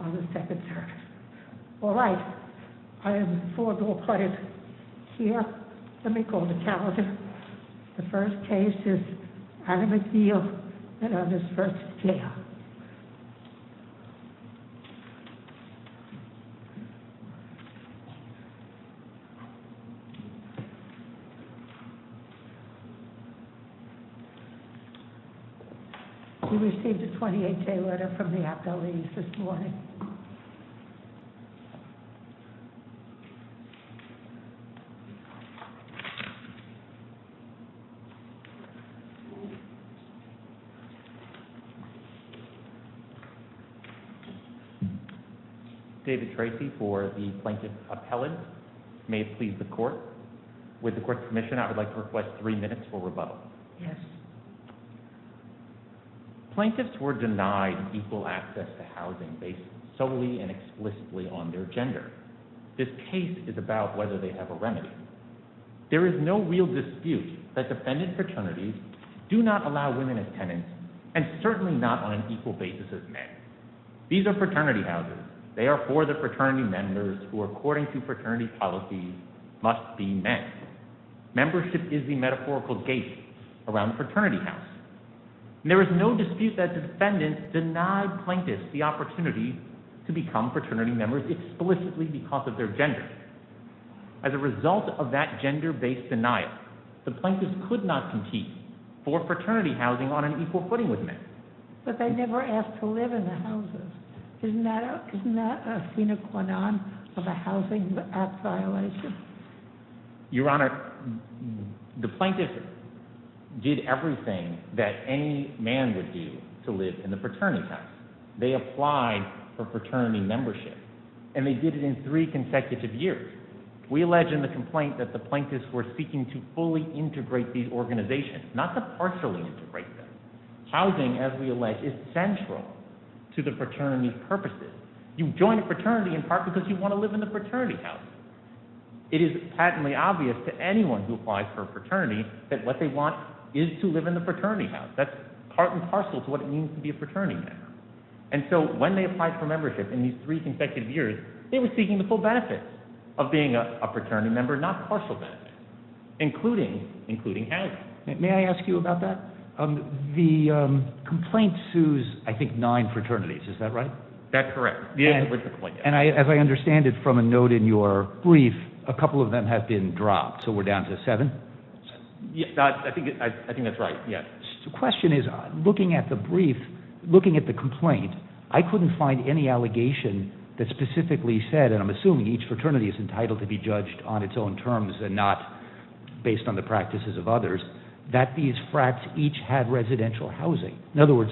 on the second third. All right, I have the four goal players here. Let me call the calendar. The first case is Adam McNeil v. Yale. He received a 28-day letter from the appellees this morning. David Tracy for the Plaintiff's Appellant. May it please the Court? With the Court's permission, I would like to request three minutes for rebuttal. Yes. Plaintiffs were denied equal access to housing based solely and explicitly on their gender. This case is about whether they have a remedy. There is no real dispute that defendant fraternities do not allow women as tenants and certainly not on an equal basis as men. These are fraternity houses. They are for the fraternity members who, according to fraternity policies, must be men. Membership is the metaphorical gate around a fraternity house. There is no dispute that defendant denied plaintiffs the opportunity to become fraternity members explicitly because of their gender. As a result of that gender-based denial, the plaintiffs could not compete for fraternity housing on an equal footing with men. But they never asked to live in the houses. Isn't that a sine qua non of a housing violation? Your Honor, the plaintiffs did everything that any man would do to live in a fraternity house. They applied for fraternity membership, and they did it in three consecutive years. We allege in the complaint that the plaintiffs were seeking to fully integrate these organizations, not to partially integrate them. Housing, as we allege, is central to the fraternity's purposes. You join a fraternity in part because you want to live in the fraternity house. It is patently obvious to anyone who applies for a fraternity that what they want is to live in the fraternity house. That's part and parcel to what it means to be a fraternity member. And so when they applied for membership in these three consecutive years, they were seeking the full benefits of being a fraternity member, not partial benefits, including housing. May I ask you about that? The complaint sues, I think, nine fraternities. Is that right? That's correct. And as I understand it from a note in your brief, a couple of them have been dropped, so we're down to seven? I think that's right, yes. The question is, looking at the brief, looking at the complaint, I couldn't find any allegation that specifically said, and I'm assuming each fraternity is entitled to be judged on its own terms and not based on the practices of others, that these frats each had residential housing. In other words,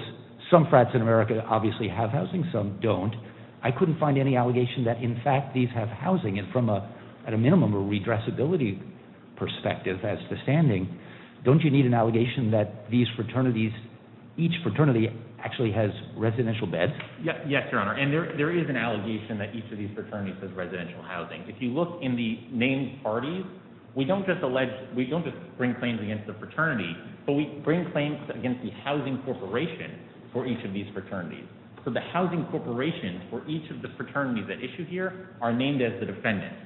some frats in America obviously have housing, some don't. I couldn't find any allegation that, in fact, these have housing. And from a, at a minimum, a redressability perspective as to standing, don't you need an allegation that these fraternities, each fraternity actually has residential beds? Yes, Your Honor, and there is an allegation that each of these fraternities has residential housing. If you look in the named parties, we don't just bring claims against the fraternity, but we bring claims against the housing corporation for each of these fraternities. So the housing corporations for each of the fraternities that issue here are named as the defendants.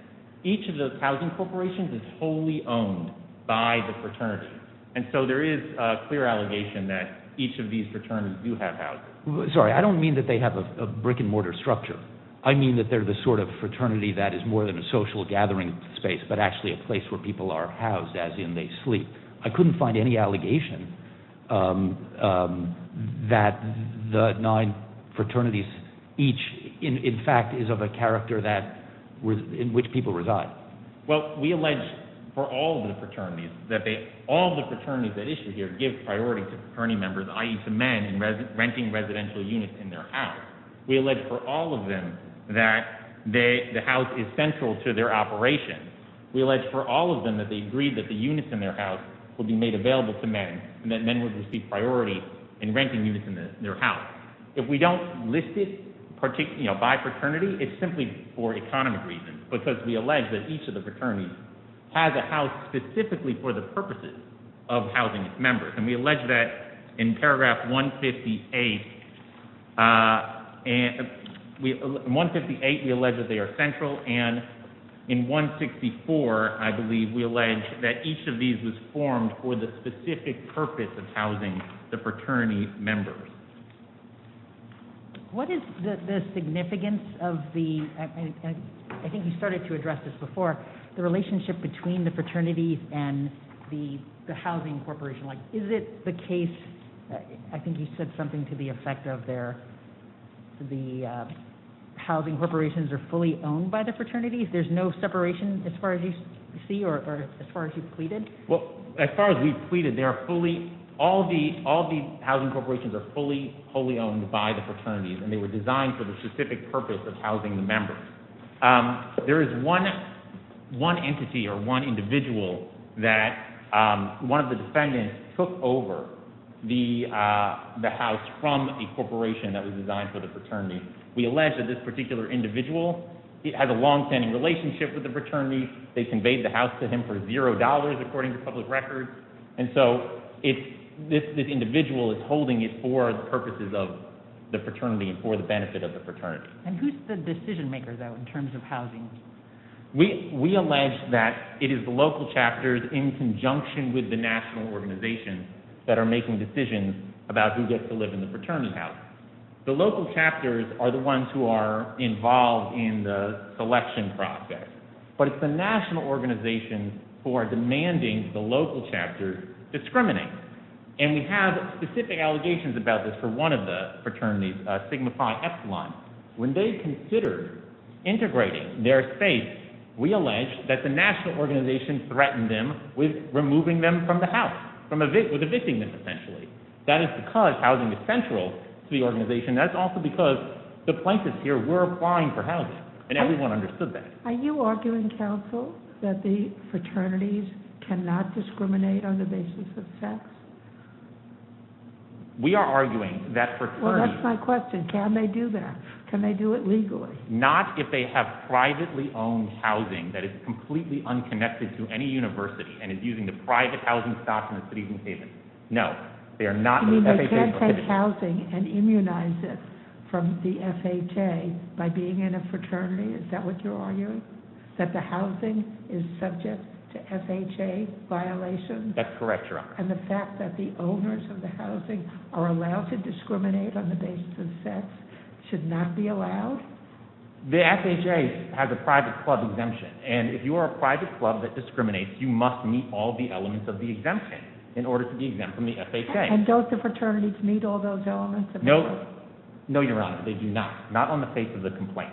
Each of those housing corporations is wholly owned by the fraternity. And so there is a clear allegation that each of these fraternities do have housing. Sorry, I don't mean that they have a brick-and-mortar structure. I mean that they're the sort of fraternity that is more than a social gathering space, but actually a place where people are housed as in they sleep. I couldn't find any allegation that the nine fraternities each, in fact, is of a character that, in which people reside. Well, we allege for all of the fraternities that they, all of the fraternities that issue here give priority to fraternity members, i.e. to men, in renting residential units in their house. We allege for all of them that the house is central to their operation. We allege for all of them that they agreed that the units in their house would be made available to men, and that men would receive priority in renting units in their house. If we don't list it by fraternity, it's simply for economic reasons, because we allege that each of the fraternities has a house specifically for the purposes of housing its members. And we allege that in paragraph 158, we allege that they are central, and in 164, I believe, we allege that each of these was formed for the specific purpose of housing the fraternity members. What is the significance of the, I think you started to address this before, the relationship between the fraternities and the housing corporation? Like, is it the case, I think you said something to the effect of their, the housing corporations are fully owned by the fraternities? There's no separation as far as you see, or as far as you've pleaded? Well, as far as we've pleaded, they are fully, all the housing corporations are fully, wholly owned by the fraternities, and they were designed for the specific purpose of housing the members. There is one entity, or one individual, that one of the defendants took over the house from a corporation that was designed for the fraternity. We allege that this particular individual has a long-standing relationship with the fraternity. They conveyed the house to him for zero dollars, according to public records. And so this individual is holding it for the purposes of the fraternity and for the benefit of the fraternity. And who's the decision maker, though, in terms of housing? We allege that it is the local chapters in conjunction with the national organizations that are making decisions about who gets to live in the fraternity house. The local chapters are the ones who are involved in the selection process, but it's the national organizations who are demanding the local chapters discriminate. And we have specific allegations about this for one of the fraternities, Sigma Phi Epsilon. When they considered integrating their space, we allege that the national organizations threatened them with removing them from the house, with evicting them, essentially. That is because housing is central to the organization. That's also because the plaintiffs here were applying for housing, and everyone understood that. Are you arguing, counsel, that the fraternities cannot discriminate on the basis of sex? We are arguing that fraternities— Well, that's my question. Can they do that? Can they do it legally? Not if they have privately owned housing that is completely unconnected to any university and is using the private housing stock in the cities and caves. No, they are not— You mean they can't take housing and immunize it from the FHA by being in a fraternity? Is that what you're arguing? That the housing is subject to FHA violations? That's correct, Your Honor. And the fact that the owners of the housing are allowed to discriminate on the basis of sex should not be allowed? The FHA has a private club exemption, and if you are a private club that discriminates, you must meet all the elements of the exemption in order to be exempt from the FHA. And don't the fraternities meet all those elements of the— No. No, Your Honor. They do not. Not on the face of the complaint.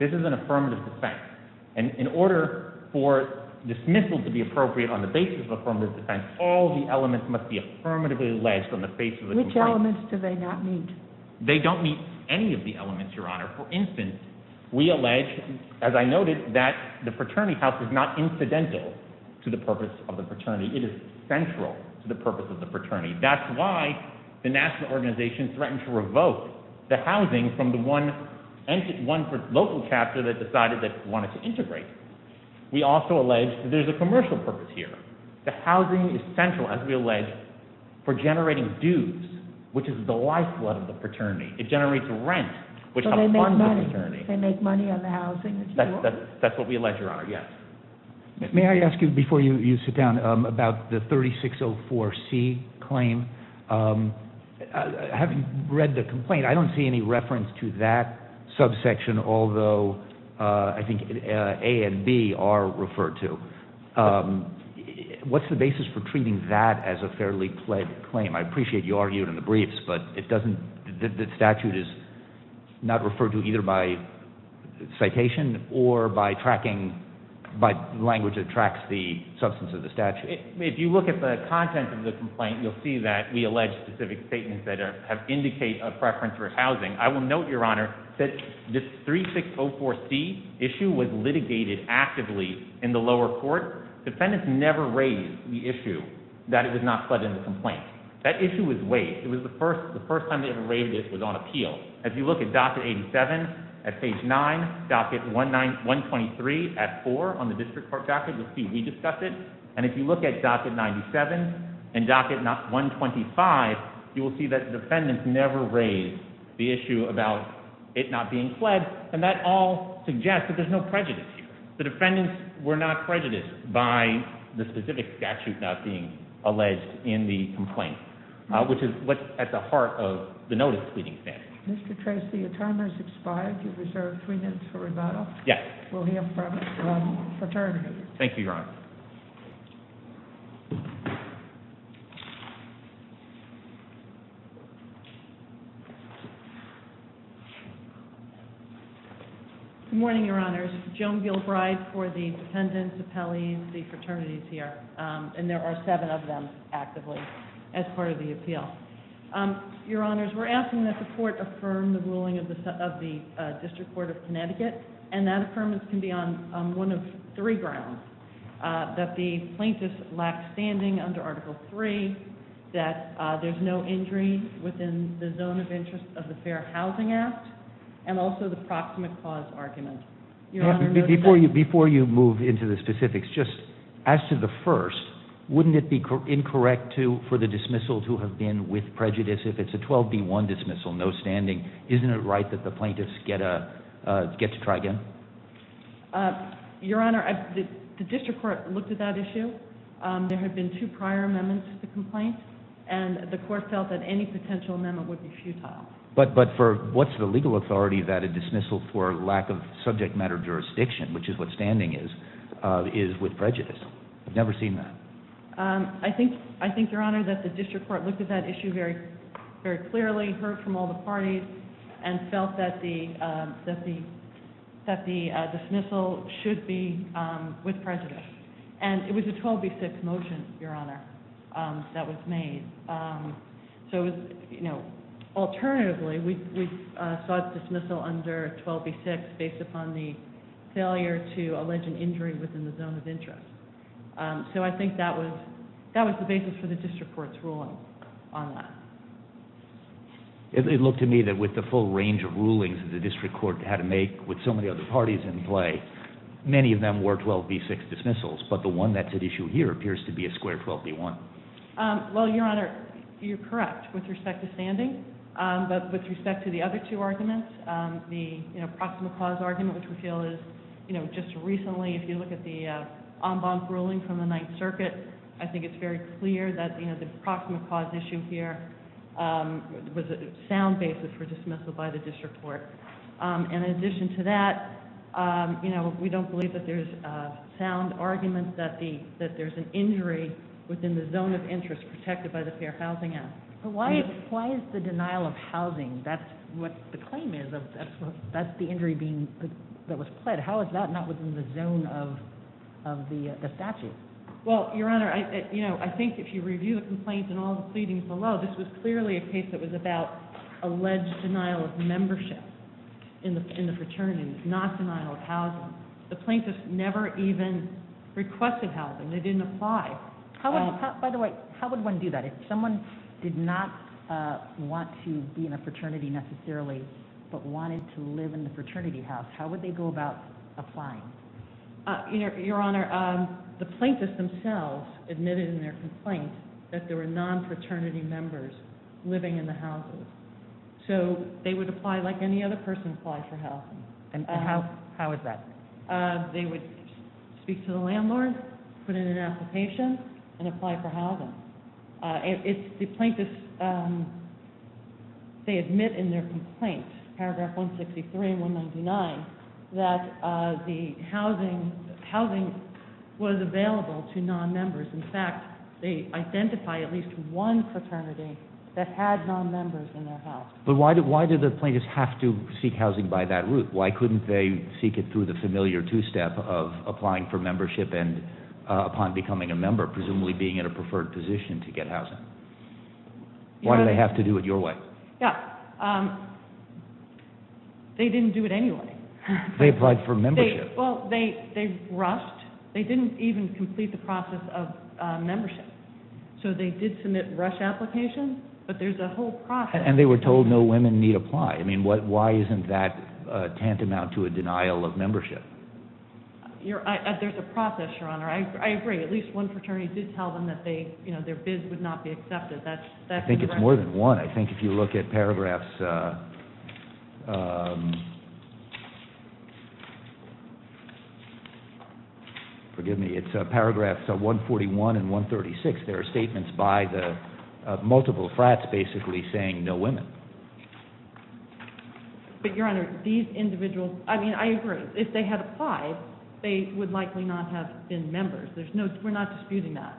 This is an affirmative defense. And in order for dismissal to be appropriate on the basis of affirmative defense, all the elements must be affirmatively alleged on the face of the complaint. Which elements do they not meet? They don't meet any of the elements, Your Honor. For instance, we allege, as I noted, that the fraternity house is not incidental to the purpose of the fraternity. It is central to the purpose of the fraternity. That's why the national organization threatened to revoke the housing from the one local chapter that decided they wanted to integrate. We also allege that there's a commercial purpose here. The housing is central, as we allege, for generating dues, which is the lifeblood of the fraternity. It generates rent, which helps fund the fraternity. So they make money. They make money on the housing. That's what we allege, Your Honor. Yes. May I ask you, before you sit down, about the 3604C claim? Having read the complaint, I don't see any reference to that subsection, although I think A and B are referred to. What's the basis for treating that as a fairly pled claim? I appreciate you argued in the briefs, but the statute is not referred to either by citation or by language that tracks the substance of the statute. If you look at the content of the complaint, you'll see that we allege specific statements that indicate a preference for housing. I will note, Your Honor, that this 3604C issue was litigated actively in the lower court. Defendants never raised the issue that it was not pled in the complaint. That issue was waived. It was the first time they ever raised it. It was on appeal. If you look at docket 87 at page 9, docket 123 at 4 on the district court docket, you'll see we discussed it. And if you look at docket 97 and docket 125, you will see that defendants never raised the issue about it not being pled. And that all suggests that there's no prejudice here. The defendants were not prejudiced by the specific statute not being alleged in the complaint, which is what's at the heart of the notice-pleading statute. Mr. Tracy, your time has expired. You're reserved three minutes for rebuttal. Yes. We'll hear from the attorney. Thank you, Your Honor. Good morning, Your Honors. Joan Gilbride for the defendants, appellees, the fraternities here. And there are seven of them actively as part of the appeal. Your Honors, we're asking that the court affirm the ruling of the District Court of Connecticut. And that affirmance can be on one of three grounds. That the plaintiffs lack standing under Article III. That there's no injury within the zone of interest of the Fair Housing Act. And also the proximate cause argument. Before you move into the specifics, just as to the first, wouldn't it be incorrect for the dismissal to have been with prejudice if it's a 12B1 dismissal, no standing? Isn't it right that the plaintiffs get to try again? Your Honor, the District Court looked at that issue. There had been two prior amendments to the complaint. And the court felt that any potential amendment would be futile. But what's the legal authority that a dismissal for lack of subject matter jurisdiction, which is what standing is, is with prejudice? I've never seen that. I think, Your Honor, that the District Court looked at that issue very clearly, heard from all the parties, and felt that the dismissal should be with prejudice. And it was a 12B6 motion, Your Honor, that was made. Alternatively, we sought dismissal under 12B6 based upon the failure to allege an injury within the zone of interest. So I think that was the basis for the District Court's ruling on that. It looked to me that with the full range of rulings that the District Court had to make with so many other parties in play, many of them were 12B6 dismissals. But the one that's at issue here appears to be a square 12B1. Well, Your Honor, you're correct with respect to standing. But with respect to the other two arguments, the proximal cause argument, which we feel is just recently, if you look at the en banc ruling from the Ninth Circuit, I think it's very clear that the proximal cause issue here was a sound basis for dismissal by the District Court. And in addition to that, we don't believe that there's a sound argument that there's an injury within the zone of interest protected by the Fair Housing Act. But why is the denial of housing, that's what the claim is, that's the injury that was pled. How is that not within the zone of the statute? Well, Your Honor, I think if you review the complaints and all the pleadings below, this was clearly a case that was about alleged denial of membership in the fraternity, not denial of housing. The plaintiffs never even requested housing. They didn't apply. By the way, how would one do that? If someone did not want to be in a fraternity necessarily, but wanted to live in the fraternity house, how would they go about applying? Your Honor, the plaintiffs themselves admitted in their complaint that there were non-fraternity members living in the houses. So they would apply like any other person would apply for housing. And how is that? They would speak to the landlord, put in an application, and apply for housing. The plaintiffs, they admit in their complaint, paragraph 163 and 199, that the housing was available to non-members. In fact, they identify at least one fraternity that had non-members in their house. But why did the plaintiffs have to seek housing by that route? Why couldn't they seek it through the familiar two-step of applying for membership upon becoming a member, presumably being in a preferred position to get housing? Why did they have to do it your way? They didn't do it anyway. They applied for membership. They rushed. They didn't even complete the process of membership. So they did submit rush applications, but there's a whole process. And they were told no women need to apply. I mean, why isn't that tantamount to a denial of membership? There's a process, Your Honor. I agree. At least one fraternity did tell them that their bids would not be accepted. I think it's more than one. I think if you look at paragraphs 141 and 136, there are statements by the multiple frats basically saying no women. But, Your Honor, these individuals, I mean, I agree. If they had applied, they would likely not have been members. We're not disputing that.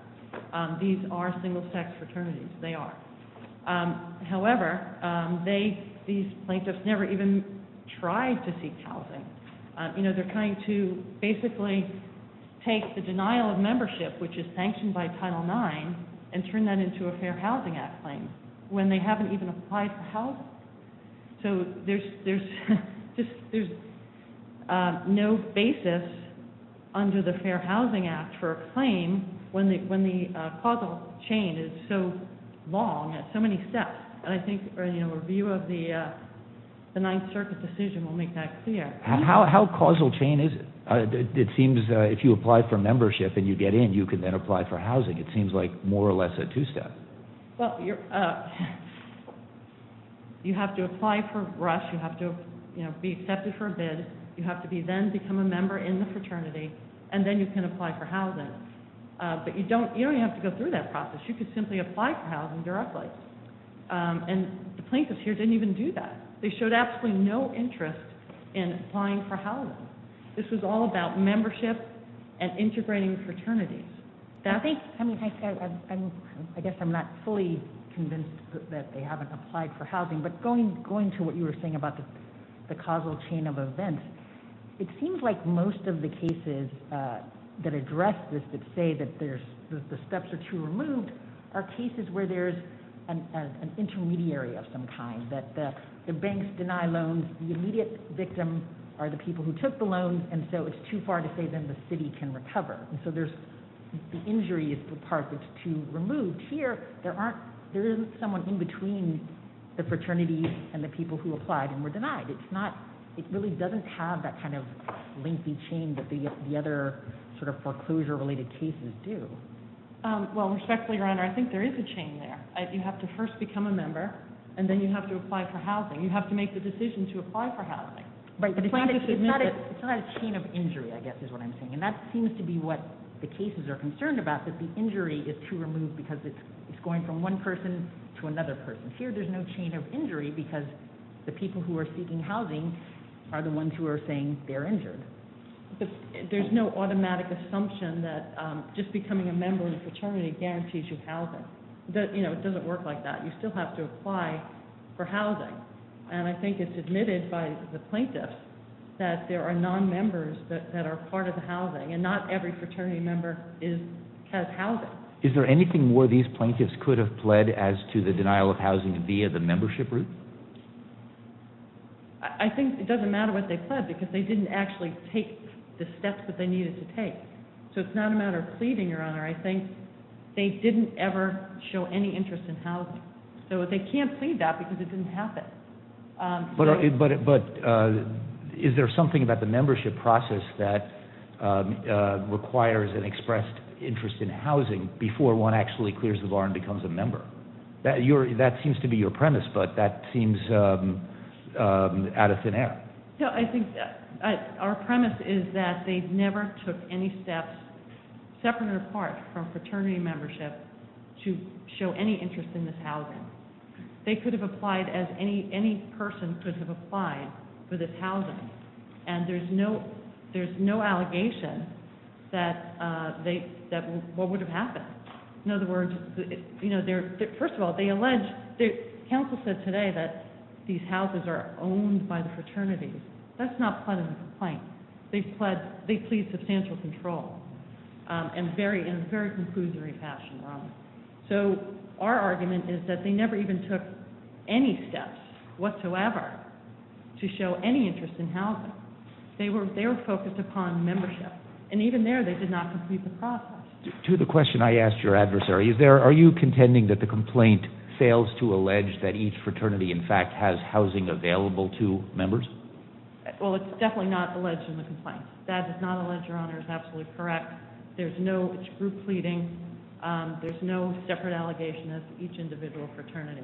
These are single-sex fraternities. They are. However, these plaintiffs never even tried to seek housing. You know, they're trying to basically take the denial of membership, which is sanctioned by Title IX, and turn that into a Fair Housing Act claim. When they haven't even applied for housing. So there's no basis under the Fair Housing Act for a claim when the causal chain is so long at so many steps. And I think a review of the Ninth Circuit decision will make that clear. How causal chain is it? It seems if you apply for membership and you get in, you can then apply for housing. It seems like more or less a two-step. Well, you have to apply for RUSH. You have to be accepted for a bid. You have to then become a member in the fraternity, and then you can apply for housing. But you don't even have to go through that process. You can simply apply for housing directly. And the plaintiffs here didn't even do that. They showed absolutely no interest in applying for housing. This was all about membership and integrating fraternities. I guess I'm not fully convinced that they haven't applied for housing. But going to what you were saying about the causal chain of events, it seems like most of the cases that address this that say that the steps are too removed are cases where there's an intermediary of some kind, that the banks deny loans, the immediate victims are the people who took the loans, and so it's too far to say then the city can recover. And so the injury is the part that's too removed. Here, there isn't someone in between the fraternities and the people who applied and were denied. It really doesn't have that kind of lengthy chain that the other sort of foreclosure-related cases do. Well, respectfully, Your Honor, I think there is a chain there. You have to first become a member, and then you have to apply for housing. You have to make the decision to apply for housing. But the plaintiffs admit that. It's not a chain of injury, I guess, is what I'm saying. And that seems to be what the cases are concerned about, that the injury is too removed because it's going from one person to another person. Here, there's no chain of injury because the people who are seeking housing are the ones who are saying they're injured. There's no automatic assumption that just becoming a member in a fraternity guarantees you housing. It doesn't work like that. You still have to apply for housing. And I think it's admitted by the plaintiffs that there are nonmembers that are part of the housing, and not every fraternity member has housing. Is there anything where these plaintiffs could have pled as to the denial of housing via the membership route? I think it doesn't matter what they pled because they didn't actually take the steps that they needed to take. So it's not a matter of pleading, Your Honor. So they can't plead that because it didn't happen. But is there something about the membership process that requires an expressed interest in housing before one actually clears the bar and becomes a member? That seems to be your premise, but that seems out of thin air. I think our premise is that they never took any steps, separate or apart, from fraternity membership to show any interest in this housing. They could have applied as any person could have applied for this housing, and there's no allegation that what would have happened. In other words, you know, first of all, they allege, counsel said today that these houses are owned by the fraternities. That's not pled as a complaint. They plead substantial control in a very conclusory fashion, Your Honor. So our argument is that they never even took any steps whatsoever to show any interest in housing. They were focused upon membership, and even there they did not complete the process. To the question I asked your adversary, are you contending that the complaint fails to allege that each fraternity in fact has housing available to members? Well, it's definitely not alleged in the complaint. That is not alleged, Your Honor, is absolutely correct. There's no group pleading. There's no separate allegation of each individual fraternity.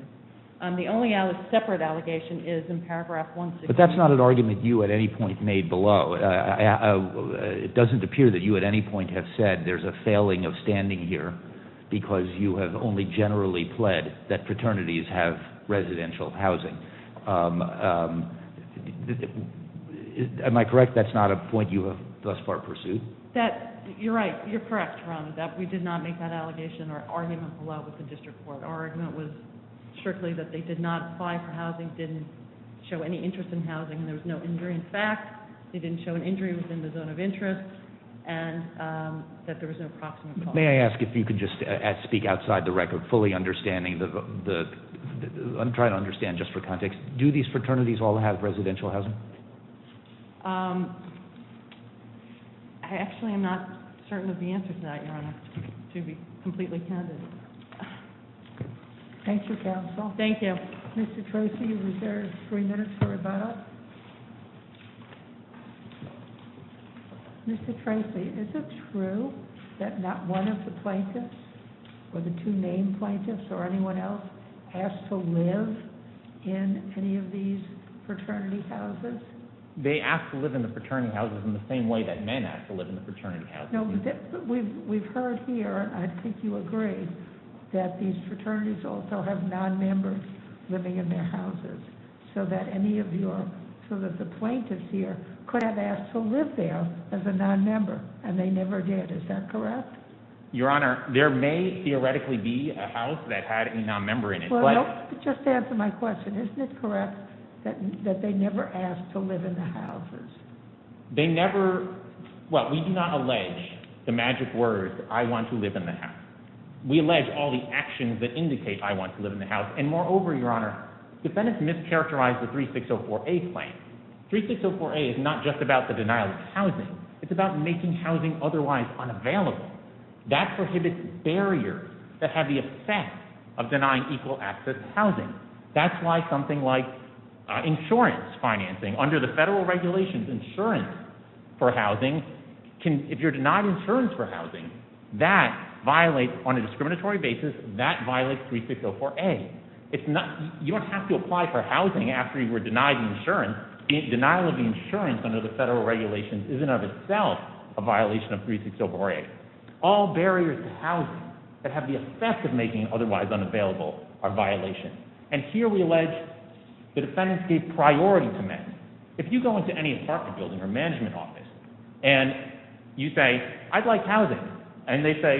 The only separate allegation is in paragraph 163. But that's not an argument you at any point made below. It doesn't appear that you at any point have said there's a failing of standing here because you have only generally pled that fraternities have residential housing. Am I correct that's not a point you have thus far pursued? You're right. You're correct, Your Honor, that we did not make that allegation or argument below with the district court. Our argument was strictly that they did not apply for housing, didn't show any interest in housing, and there was no injury in fact. They didn't show an injury within the zone of interest, and that there was no proximate cause. May I ask if you could just speak outside the record, fully understanding the... I'm trying to understand just for context. Do these fraternities all have residential housing? Actually, I'm not certain of the answer to that, Your Honor, to be completely candid. Thank you, counsel. Thank you. Mr. Troci, you're reserved three minutes for rebuttal. Mr. Troci, is it true that not one of the plaintiffs, or the two named plaintiffs or anyone else, asked to live in any of these fraternity houses? They asked to live in the fraternity houses in the same way that men asked to live in the fraternity houses. No, but we've heard here, and I think you agree, that these fraternities also have non-members living in their houses, so that any of your... so that the plaintiffs here could have asked to live there as a non-member, and they never did. Is that correct? Your Honor, there may theoretically be a house that had a non-member in it, but... Well, just to answer my question, isn't it correct that they never asked to live in the houses? They never... well, we do not allege the magic word, I want to live in the house. We allege all the actions that indicate I want to live in the house. And moreover, Your Honor, defendants mischaracterized the 3604A claim. It's about making housing otherwise unavailable. That prohibits barriers that have the effect of denying equal access to housing. That's why something like insurance financing, under the federal regulations, insurance for housing, if you're denied insurance for housing, that violates, on a discriminatory basis, that violates 3604A. You don't have to apply for housing after you were denied insurance. Your Honor, the denial of the insurance under the federal regulations isn't of itself a violation of 3604A. All barriers to housing that have the effect of making otherwise unavailable are violations. And here we allege the defendants gave priority to men. If you go into any apartment building or management office, and you say, I'd like housing, and they say,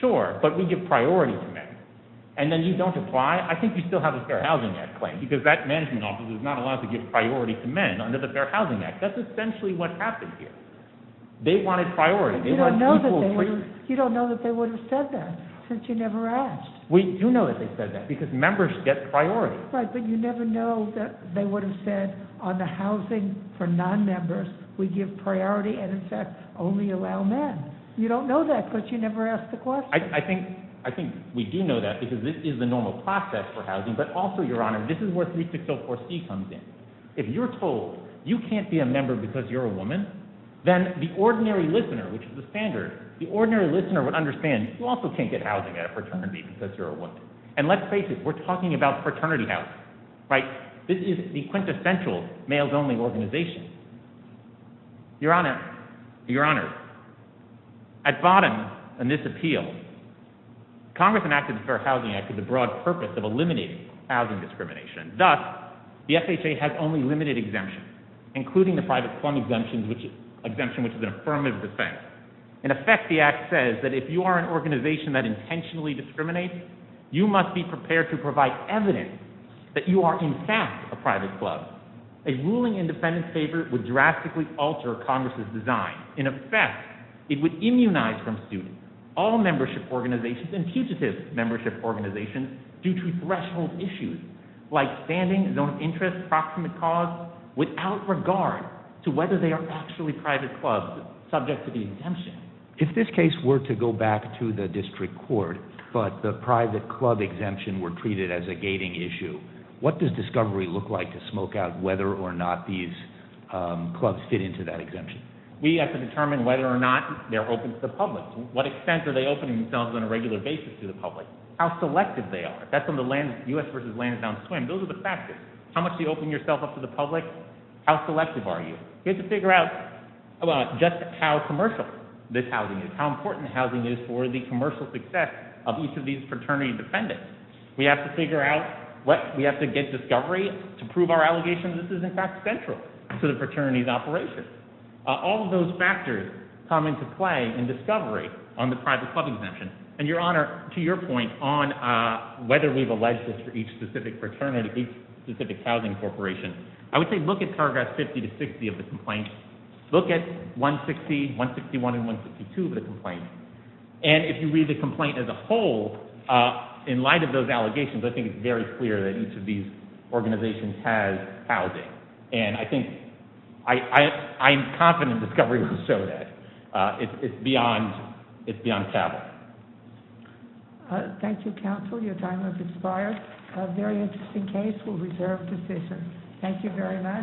sure, but we give priority to men, and then you don't apply, I think you still have the Fair Housing Act claim, because that management office is not allowed to give priority to men under the Fair Housing Act. That's essentially what happened here. They wanted priority. But you don't know that they would have said that, since you never asked. We do know that they said that, because members get priority. Right, but you never know that they would have said, on the housing for non-members, we give priority and, in fact, only allow men. You don't know that, because you never asked the question. I think we do know that, because this is the normal process for housing. But also, Your Honor, this is where 3604C comes in. If you're told you can't be a member because you're a woman, then the ordinary listener, which is the standard, the ordinary listener would understand you also can't get housing at a fraternity because you're a woman. And let's face it, we're talking about fraternity housing. This is the quintessential males-only organization. Your Honor, Your Honor, at bottom in this appeal, Congress enacted the Fair Housing Act with the broad purpose of eliminating housing discrimination. Thus, the FHA has only limited exemptions, including the private club exemption, which is an affirmative defense. In effect, the Act says that if you are an organization that intentionally discriminates, you must be prepared to provide evidence that you are, in fact, a private club. A ruling in defendant's favor would drastically alter Congress' design. In effect, it would immunize from students all membership organizations and fugitive membership organizations due to threshold issues, like standing, zone of interest, proximate cause, without regard to whether they are actually private clubs subject to the exemption. If this case were to go back to the district court, but the private club exemption were treated as a gating issue, what does discovery look like to smoke out whether or not these clubs fit into that exemption? We have to determine whether or not they're open to the public. To what extent are they opening themselves on a regular basis to the public? How selective they are. That's on the U.S. v. Lansdowne Swim. Those are the factors. How much do you open yourself up to the public? How selective are you? We have to figure out just how commercial this housing is, how important housing is for the commercial success of each of these fraternity defendants. We have to figure out what we have to get discovery to prove our allegations. This is, in fact, central to the fraternity's operation. All of those factors come into play in discovery on the private club exemption. And, Your Honor, to your point on whether we've alleged this for each specific fraternity, each specific housing corporation, I would say look at paragraphs 50 to 60 of the complaint. And if you read the complaint as a whole, in light of those allegations, I think it's very clear that each of these organizations has housing. And I think I'm confident discovery will show that. It's beyond taboo. Thank you, counsel. Your time has expired. A very interesting case. We'll reserve the session. Thank you very much.